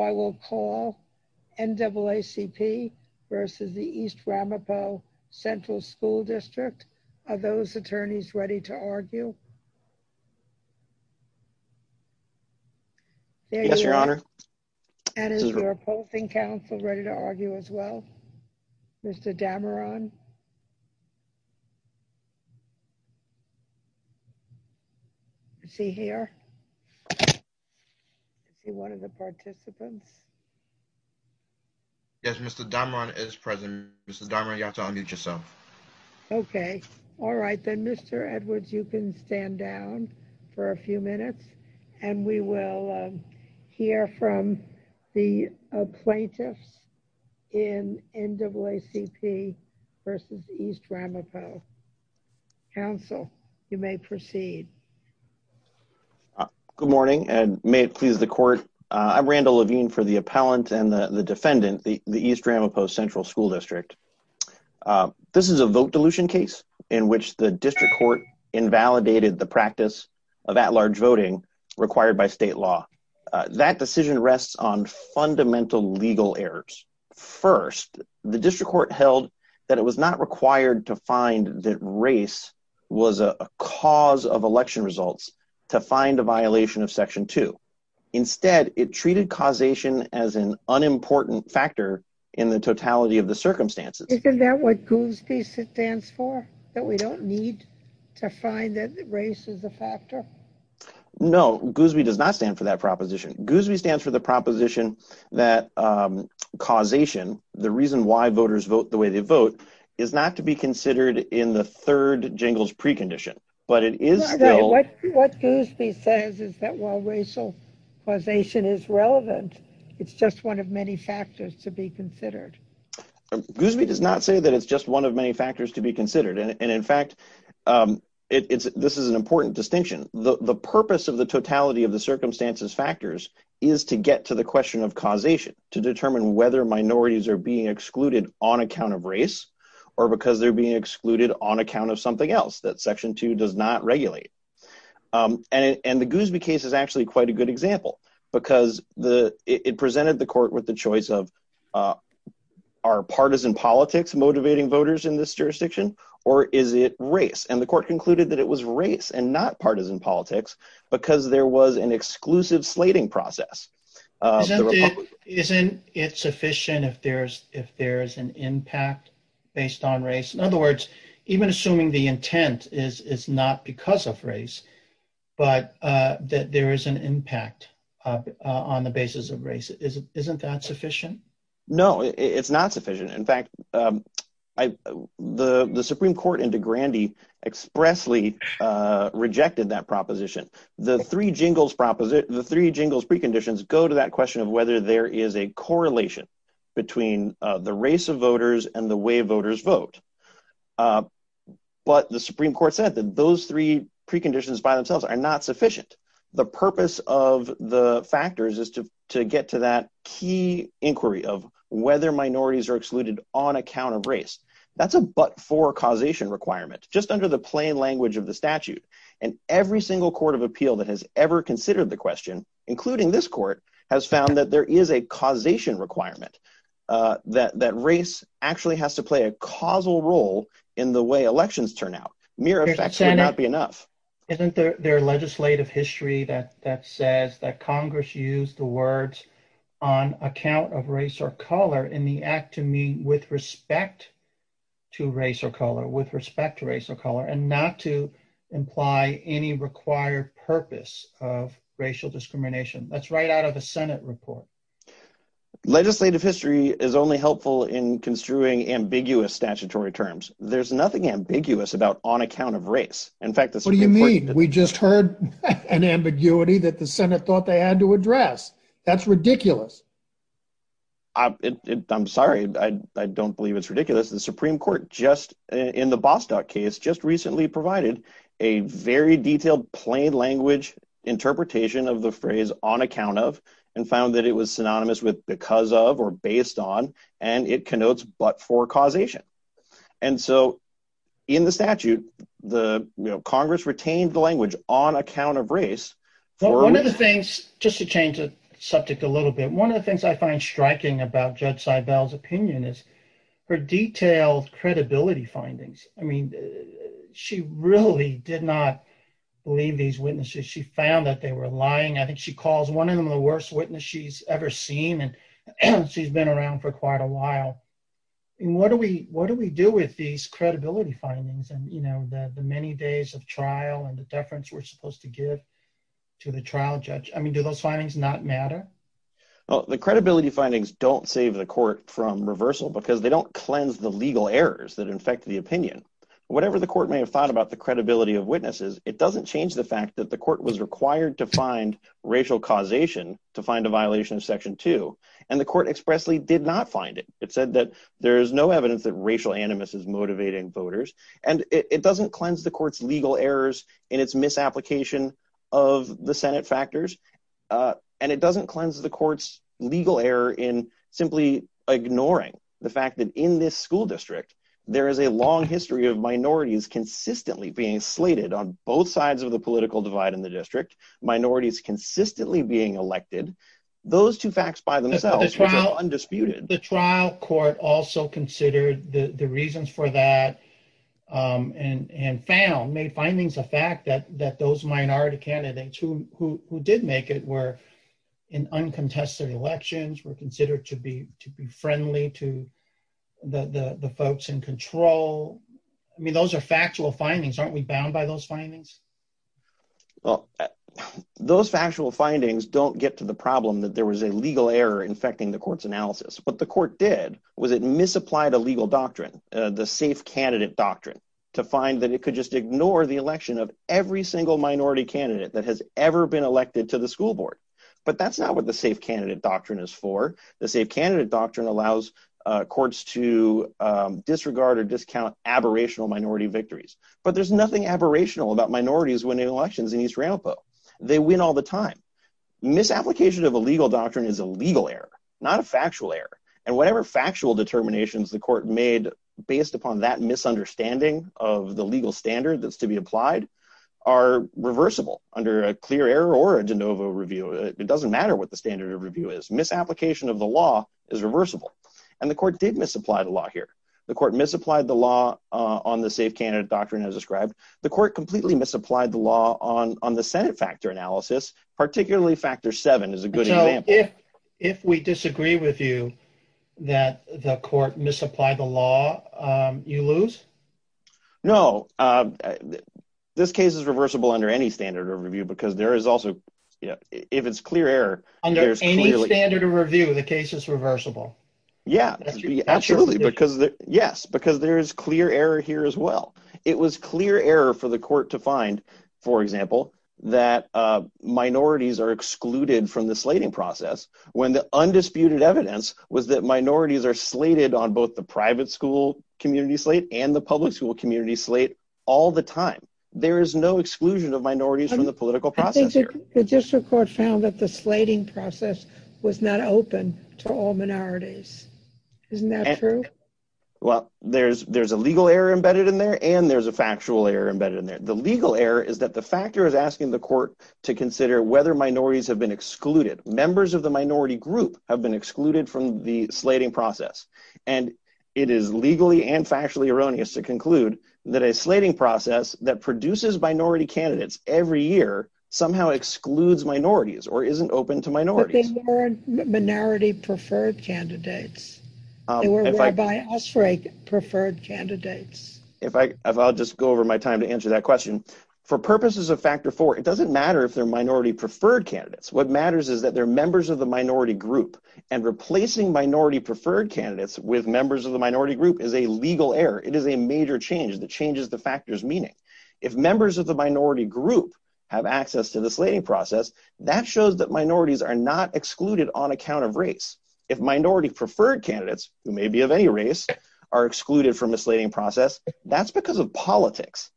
I will call NAACP v. East Ramapo Central School District. Are those attorneys ready to argue? Yes, Your Honor. And is the opposing counsel ready to argue as well? Mr. Dameron? Is he one of the participants? Yes, Mr. Dameron is present. Mr. Dameron, you have to unmute yourself. Okay. All right. Then, Mr. Edwards, you can stand down for a few minutes, and we will hear from the plaintiffs in NAACP v. East Ramapo. Counsel, you may proceed. Good morning, and may it please the court. I'm Randall Levine for the appellant and the defendant, the East Ramapo Central School District. This is a vote dilution case in which the district court invalidated the practice of at-large voting required by state law. That decision rests on fundamental legal errors. First, the district court held that it was not required to find that race was a cause of election results to find a violation of Section 2. Instead, it treated causation as an unimportant factor in the totality of the circumstances. Isn't that what Goosby stands for? That we don't need to find that race is a factor? No, Goosby does not stand for that proposition. Goosby stands for the proposition that causation, the reason why voters vote the way they vote, is not to be considered in the third jingles precondition, but it is still... What Goosby says is that while racial causation is relevant, it's just one of many factors to be considered. Goosby does not say that it's just one of many factors to be considered, and in fact, this is an important distinction. The purpose of the totality of the circumstances factors is to get to the question of causation, to determine whether minorities are being excluded on account of race, or because they're being excluded on account of something else that Section 2 does not regulate. And the Goosby case is actually quite a good example, because it presented the court with the choice of, are partisan politics motivating voters in this jurisdiction, or is it race? And the court concluded that it was race and not partisan politics, because there was an exclusive slating process. Isn't it sufficient if there's an impact based on race? In other words, even assuming the intent is not because of race, but that there is an impact on the basis of race, isn't that sufficient? No, it's not sufficient. In fact, the Supreme Court in DeGrande expressly rejected that proposition. The three jingles preconditions go to that question of whether there is a correlation between the race of voters and the way voters vote. But the Supreme Court said that those three preconditions by themselves are not sufficient. The purpose of the factors is to get to that key inquiry of whether minorities are excluded on account of race. That's a but-for causation requirement, just under the plain language of the statute. And every single court of appeal that has ever considered the question, including this court, has found that there is a causation requirement, that race actually has to play a causal role in the way elections turn out. Isn't there legislative history that says that Congress used the words on account of race or color in the act to mean with respect to race or color, with respect to race or color, and not to imply any required purpose of racial discrimination? That's right out of the Senate report. Legislative history is only helpful in construing ambiguous statutory terms. There's nothing ambiguous about on account of race. What do you mean? We just heard an ambiguity that the Senate thought they had to address. That's ridiculous. I'm sorry. I don't believe it's ridiculous. The Supreme Court, in the Bostock case, just recently provided a very detailed plain language interpretation of the phrase on account of and found that it was synonymous with because of or based on, and it connotes but-for causation. In the statute, Congress retained the language on account of race. One of the things, just to change the subject a little bit, one of the things I find striking about Judge Seibel's opinion is her detailed credibility findings. I mean, she really did not believe these witnesses. She found that they were lying. I think she calls one of them the worst witness she's ever seen, and she's been around for quite a while. What do we do with these credibility findings and the many days of trial and the deference we're supposed to give to the trial judge? I mean, do those findings not matter? Well, the credibility findings don't save the court from reversal because they don't cleanse the legal errors that infect the opinion. Whatever the court may have thought about the credibility of witnesses, it doesn't change the fact that the court was required to find racial causation to find a violation of Section 2, and the court expressly did not find it. It said that there is no evidence that racial animus is motivating voters, and it doesn't cleanse the court's legal errors in its misapplication of the Senate factors, and it doesn't cleanse the court's legal error in simply ignoring the fact that in this school district, there is a long history of minorities consistently being slated on both sides of the political divide in the district, minorities consistently being elected. Those two facts by themselves are undisputed. The trial court also considered the reasons for that and found, made findings of fact that those minority candidates who did make it were in uncontested elections, were considered to be friendly to the folks in control. I mean, those are factual findings. Aren't we bound by those findings? Well, those factual findings don't get to the problem that there was a legal error infecting the court's analysis. What the court did was it misapplied a legal doctrine, the safe candidate doctrine, to find that it could just ignore the election of every single minority candidate that has ever been elected to the school board. But that's not what the safe candidate doctrine is for. The safe candidate doctrine allows courts to disregard or discount aberrational minority victories. But there's nothing aberrational about minorities winning elections in East Aramco. They win all the time. Misapplication of a legal doctrine is a legal error, not a factual error. And whatever factual determinations the court made based upon that misunderstanding of the legal standard that's to be applied are reversible under a clear error or a de novo review. It doesn't matter what the standard of review is. Misapplication of the law is reversible. And the court did misapply the law here. The court misapplied the law on the safe candidate doctrine as described. The court completely misapplied the law on the Senate factor analysis, particularly factor seven is a good example. So if we disagree with you that the court misapplied the law, you lose? No. This case is reversible under any standard of review because there is also, if it's clear error. Under any standard of review, the case is reversible? Yeah, absolutely. Yes, because there is clear error here as well. It was clear error for the court to find, for example, that minorities are excluded from the slating process when the undisputed evidence was that minorities are slated on both the private school community slate and the public school community slate all the time. There is no exclusion of minorities from the political process here. The district court found that the slating process was not open to all minorities. Isn't that true? Well, there's a legal error embedded in there and there's a factual error embedded in there. The legal error is that the factor is asking the court to consider whether minorities have been excluded. Members of the minority group have been excluded from the slating process. It is legally and factually erroneous to conclude that a slating process that produces minority candidates every year somehow excludes minorities or isn't open to minorities. But they weren't minority preferred candidates. They were whereby us for a preferred candidates. I'll just go over my time to answer that question. For purposes of factor four, it doesn't matter if they're minority preferred candidates. What matters is that they're members of the minority group and replacing minority preferred candidates with members of the minority group is a legal error. It is a major change that changes the factors meaning. If members of the minority group have access to the slating process, that shows that minorities are not excluded on account of race. If minority preferred candidates who may be of any race are excluded from the slating process, that's because of politics.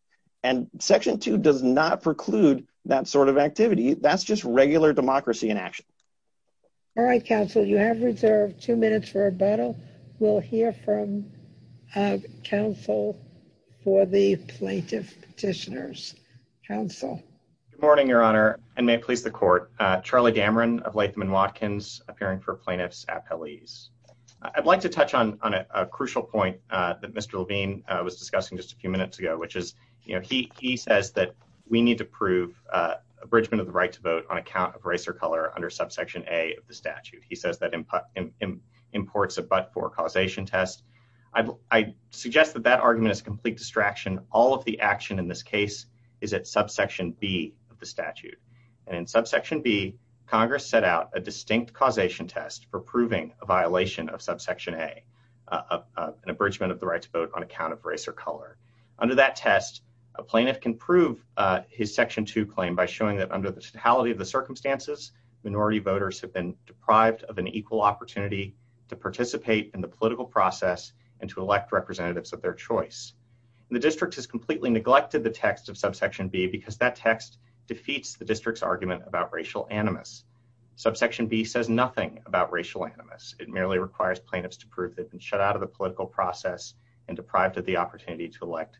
And section two does not preclude that sort of activity. That's just regular democracy in action. All right, counsel. You have reserved two minutes for rebuttal. We'll hear from counsel for the plaintiff petitioners. Counsel. Good morning, Your Honor, and may it please the court. Charlie Dameron of Latham and Watkins appearing for plaintiff's appellees. I'd like to touch on a crucial point that Mr. Levine was discussing just a few minutes ago, which is, you know, he says that we need to prove abridgment of the right to vote on account of race or color under subsection A of the statute. He says that imports a but for causation test. I suggest that that argument is complete distraction. All of the action in this case is at subsection B of the statute. And in subsection B, Congress set out a distinct causation test for proving a violation of subsection A, an abridgment of the right to vote on account of race or color. Under that test, a plaintiff can prove his section to claim by showing that under the totality of the circumstances, minority voters have been deprived of an equal opportunity to participate in the political process and to elect representatives of their choice. The district has completely neglected the text of subsection B because that text defeats the district's argument about racial animus. Subsection B says nothing about racial animus. It merely requires plaintiffs to prove that and shut out of the political process and deprived of the opportunity to elect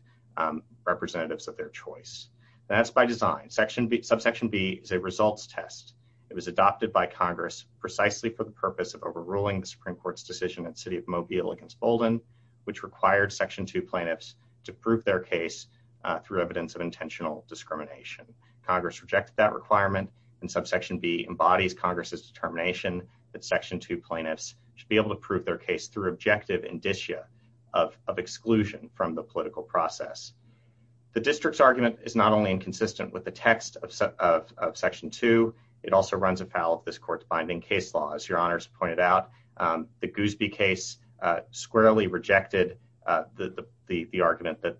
representatives of their choice. That's by design. Subsection B is a results test. It was adopted by Congress precisely for the purpose of overruling the Supreme Court's decision at City of Mobile against Bolden, which required section 2 plaintiffs to prove their case through evidence of intentional discrimination. Congress rejected that requirement and subsection B embodies Congress's determination that section 2 plaintiffs should be able to prove their case through objective indicia of exclusion from the political process. The district's argument is not only inconsistent with the text of section 2, it also runs afoul of this court's binding case law. As your honors pointed out, the Goosby case squarely rejected the argument that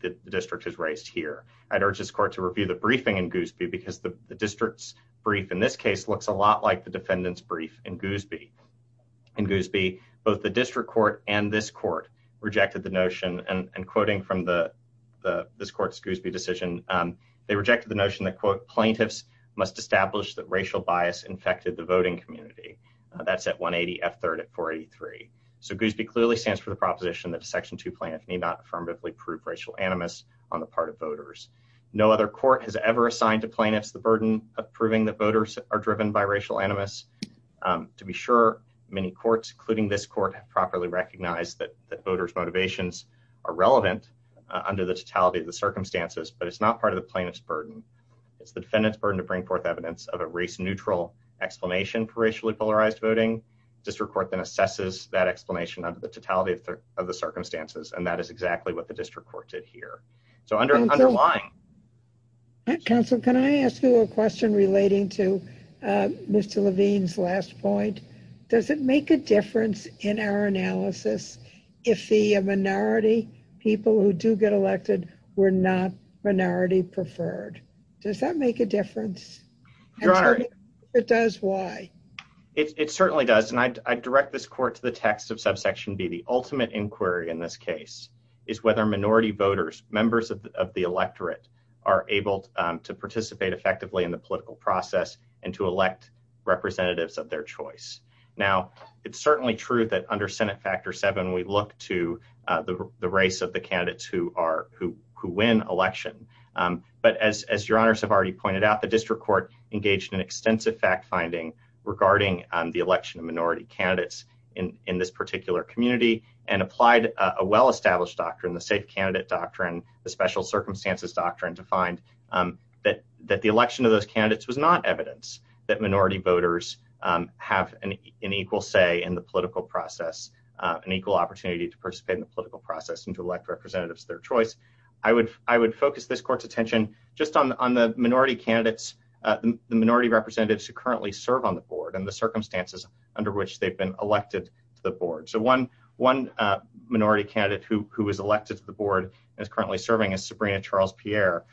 the district has raised here. I'd urge this court to review the briefing in Goosby because the district's brief in this case looks a lot like the defendant's brief in Goosby. In Goosby, both the district court and this court rejected the notion, and quoting from this court's Goosby decision, they rejected the notion that, quote, plaintiffs must establish that racial bias infected the voting community. That's at 180 F3rd at 483. So Goosby clearly stands for the proposition that a section 2 plaintiff may not affirmatively prove racial animus on the part of voters. No other court has ever assigned to plaintiffs the burden of proving that voters are driven by racial animus. To be sure, many courts, including this court, have properly recognized that voters' motivations are relevant under the totality of the circumstances, but it's not part of the plaintiff's burden. It's the defendant's burden to bring forth evidence of a race-neutral explanation for racially polarized voting. District court then assesses that explanation under the totality of the circumstances, and that is exactly what the district court did here. And so, counsel, can I ask you a question relating to Mr. Levine's last point? Does it make a difference in our analysis if the minority people who do get elected were not minority preferred? Does that make a difference? Your Honor. If it does, why? It certainly does, and I direct this court to the text of subsection B. The ultimate inquiry in this case is whether minority voters, members of the electorate, are able to participate effectively in the political process and to elect representatives of their choice. Now, it's certainly true that under Senate Factor 7, we look to the race of the candidates who win election. But as Your Honors have already pointed out, the district court engaged in extensive fact-finding regarding the election of minority candidates in this particular community and applied a well-established doctrine, the safe candidate doctrine, the special circumstances doctrine, to find that the election of those candidates was not evidence that minority voters have an equal say in the political process, an equal opportunity to participate in the political process and to elect representatives of their choice. I would focus this court's attention just on the minority candidates, the minority representatives who currently serve on the board and the circumstances under which they've been elected to the board. So one minority candidate who was elected to the board and is currently serving is Sabrina Charles-Pierre.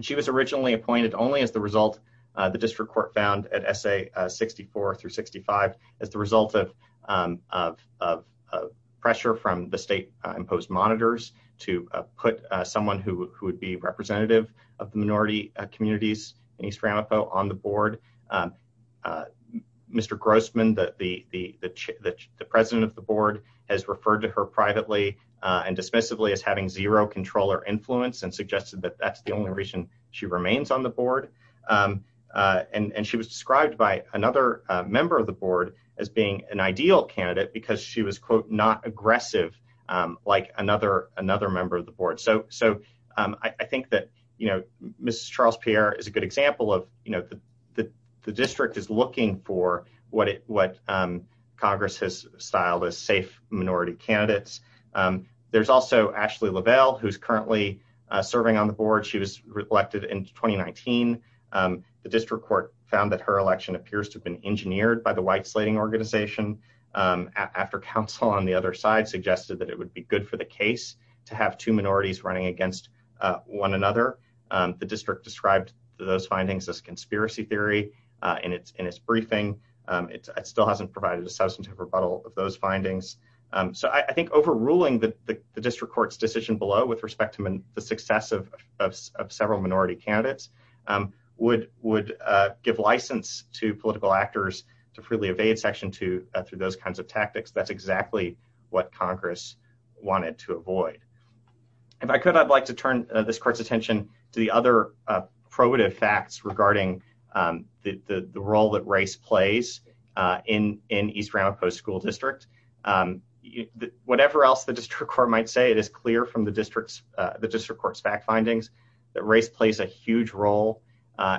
She was originally appointed only as the result, the district court found, at S.A. 64 through 65, as the result of pressure from the state-imposed monitors to put someone who would be representative of the minority communities in East Ramapo on the board. Mr. Grossman, the president of the board, has referred to her privately and dismissively as having zero control or influence and suggested that that's the only reason she remains on the board. And she was described by another member of the board as being an ideal candidate because she was, quote, not aggressive like another member of the board. So I think that, you know, Mrs. Charles-Pierre is a good example of, you know, the district is looking for what Congress has styled as safe minority candidates. There's also Ashley Lavelle, who's currently serving on the board. She was elected in 2019. The district court found that her election appears to have been engineered by the white-slating organization after counsel on the other side suggested that it would be good for the case to have two minorities running against one another. The district described those findings as conspiracy theory in its briefing. It still hasn't provided a substantive rebuttal of those findings. So I think overruling the district court's decision below with respect to the success of several minority candidates would give license to political actors to freely evade Section 2 through those kinds of tactics. That's exactly what Congress wanted to avoid. If I could, I'd like to turn this court's attention to the other probative facts regarding the role that race plays in East Ramapo School District. Whatever else the district court might say, it is clear from the district court's fact findings that race plays a huge role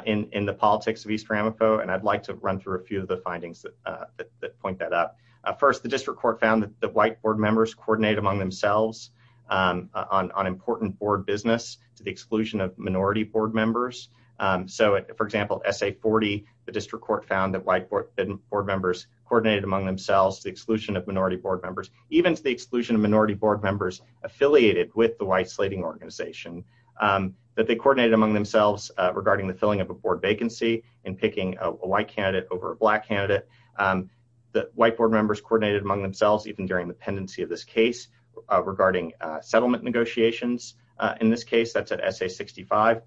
in the politics of East Ramapo. I'd like to run through a few of the findings that point that out. First, the district court found that white board members coordinated among themselves on important board business to the exclusion of minority board members. For example, in Essay 40, the district court found that white board members coordinated among themselves to the exclusion of minority board members, even to the exclusion of minority board members affiliated with the white slating organization. That they coordinated among themselves regarding the filling of a board vacancy and picking a white candidate over a black candidate. That white board members coordinated among themselves, even during the pendency of this case, regarding settlement negotiations. In this case, that's at Essay 65.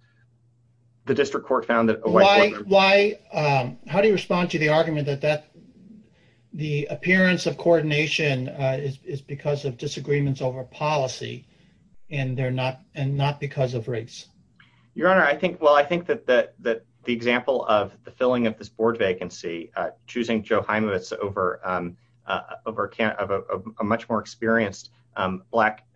The district court found that a white board member... How do you respond to the argument that the appearance of coordination is because of disagreements over policy and not because of race? Your Honor, I think that the example of the filling of this board vacancy, choosing Joe Heimovitz over a much more experienced black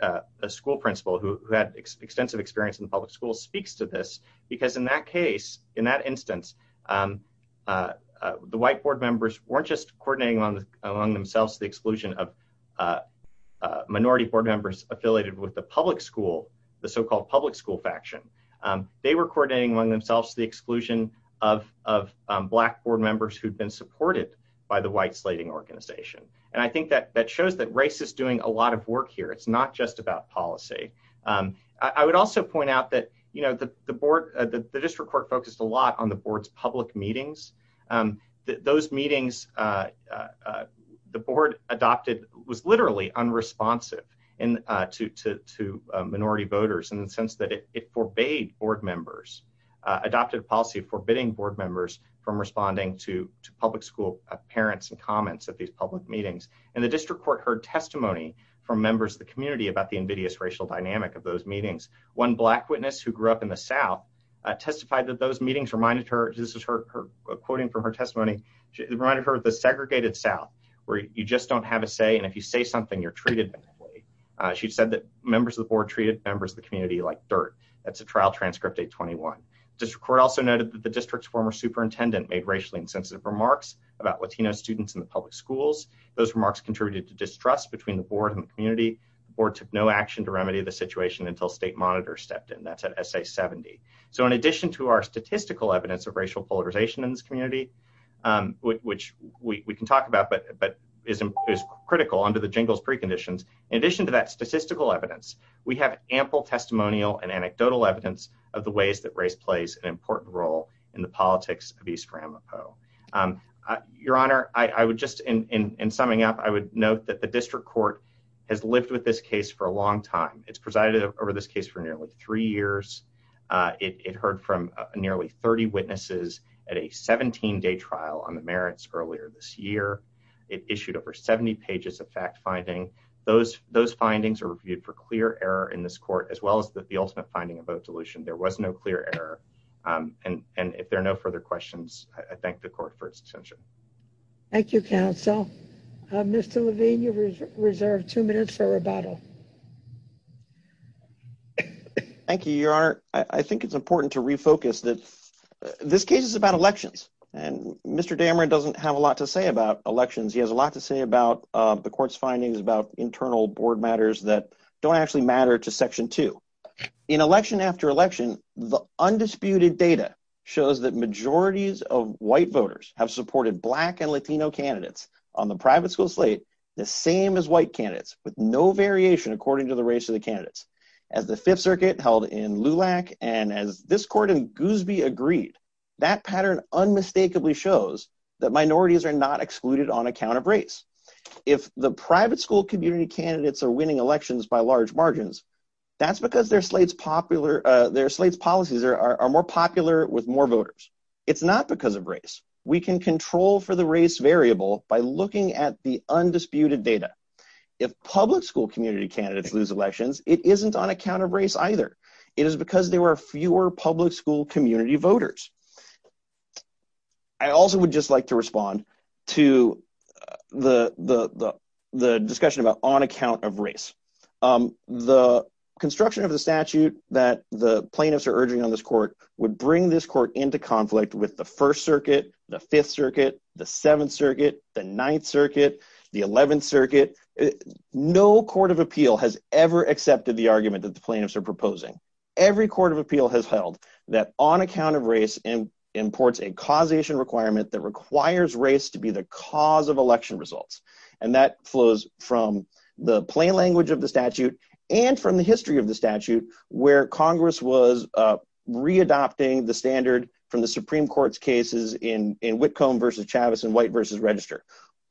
school principal who had extensive experience in the public school speaks to this. Because in that case, in that instance, the white board members weren't just coordinating among themselves to the exclusion of minority board members affiliated with the public school, the so-called public school faction. They were coordinating among themselves to the exclusion of black board members who'd been supported by the white slating organization. And I think that shows that race is doing a lot of work here. It's not just about policy. I would also point out that the district court focused a lot on the board's public meetings. Those meetings, the board adopted, was literally unresponsive to minority voters in the sense that it forbade board members, adopted a policy forbidding board members from responding to public school parents' comments at these public meetings. And the district court heard testimony from members of the community about the invidious racial dynamic of those meetings. One black witness who grew up in the South testified that those meetings reminded her, this is her quoting from her testimony, reminded her of the segregated South where you just don't have a say, and if you say something, you're treated badly. She said that members of the board treated members of the community like dirt. That's a trial transcript 821. District court also noted that the district's former superintendent made racially insensitive remarks about Latino students in the public schools. Those remarks contributed to distrust between the board and the community. The board took no action to remedy the situation until state monitors stepped in. That's at SA70. So in addition to our statistical evidence of racial polarization in this community, which we can talk about but is critical under the jingles preconditions, in addition to that statistical evidence, we have ample testimonial and anecdotal evidence of the ways that race plays an important role in the politics of East Ramapo. Your Honor, I would just, in summing up, I would note that the district court has lived with this case for a long time. It's presided over this case for nearly three years. It heard from nearly 30 witnesses at a 17-day trial on the merits earlier this year. It issued over 70 pages of fact-finding. Those findings are reviewed for clear error in this court, as well as the ultimate finding of vote dilution. There was no clear error, and if there are no further questions, I thank the court for its attention. Thank you, counsel. Mr. Levine, you have reserved two minutes for rebuttal. Thank you, Your Honor. I think it's important to refocus that this case is about elections, and Mr. Dameron doesn't have a lot to say about elections. He has a lot to say about the court's findings about internal board matters that don't actually matter to Section 2. In election after election, the undisputed data shows that majorities of white voters have supported black and Latino candidates on the private school slate, the same as white candidates, with no variation according to the race of the candidates. As the Fifth Circuit held in LULAC and as this court in Goosby agreed, that pattern unmistakably shows that minorities are not excluded on account of race. If the private school community candidates are winning elections by large margins, that's because their slate's policies are more popular with more voters. It's not because of race. We can control for the race variable by looking at the undisputed data. If public school community candidates lose elections, it isn't on account of race either. It is because there are fewer public school community voters. I also would just like to respond to the discussion about on account of race. The construction of the statute that the plaintiffs are urging on this court would bring this court into conflict with the First Circuit, the Fifth Circuit, the Seventh Circuit, the Ninth Circuit, the Eleventh Circuit. No court of appeal has ever accepted the argument that the plaintiffs are proposing. Every court of appeal has held that on account of race imports a causation requirement that requires race to be the cause of election results. And that flows from the plain language of the statute and from the history of the statute where Congress was re-adopting the standard from the Supreme Court's cases in Whitcomb versus Chavez and White versus Register.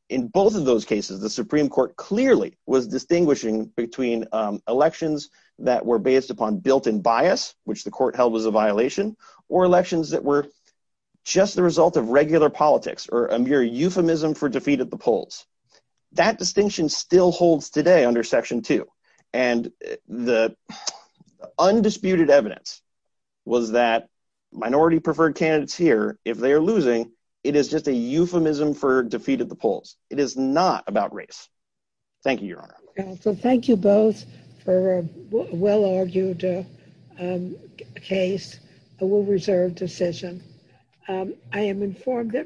In both of those cases, the Supreme Court clearly was distinguishing between elections that were based upon built-in bias, which the court held was a violation, or elections that were just the result of regular politics or a mere euphemism for defeat at the polls. That distinction still holds today under Section 2. And the undisputed evidence was that minority-preferred candidates here, if they are losing, it is just a euphemism for defeat at the polls. It is not about race. Thank you, Your Honor. So thank you both for a well-argued case, a well-reserved decision. I am informed that...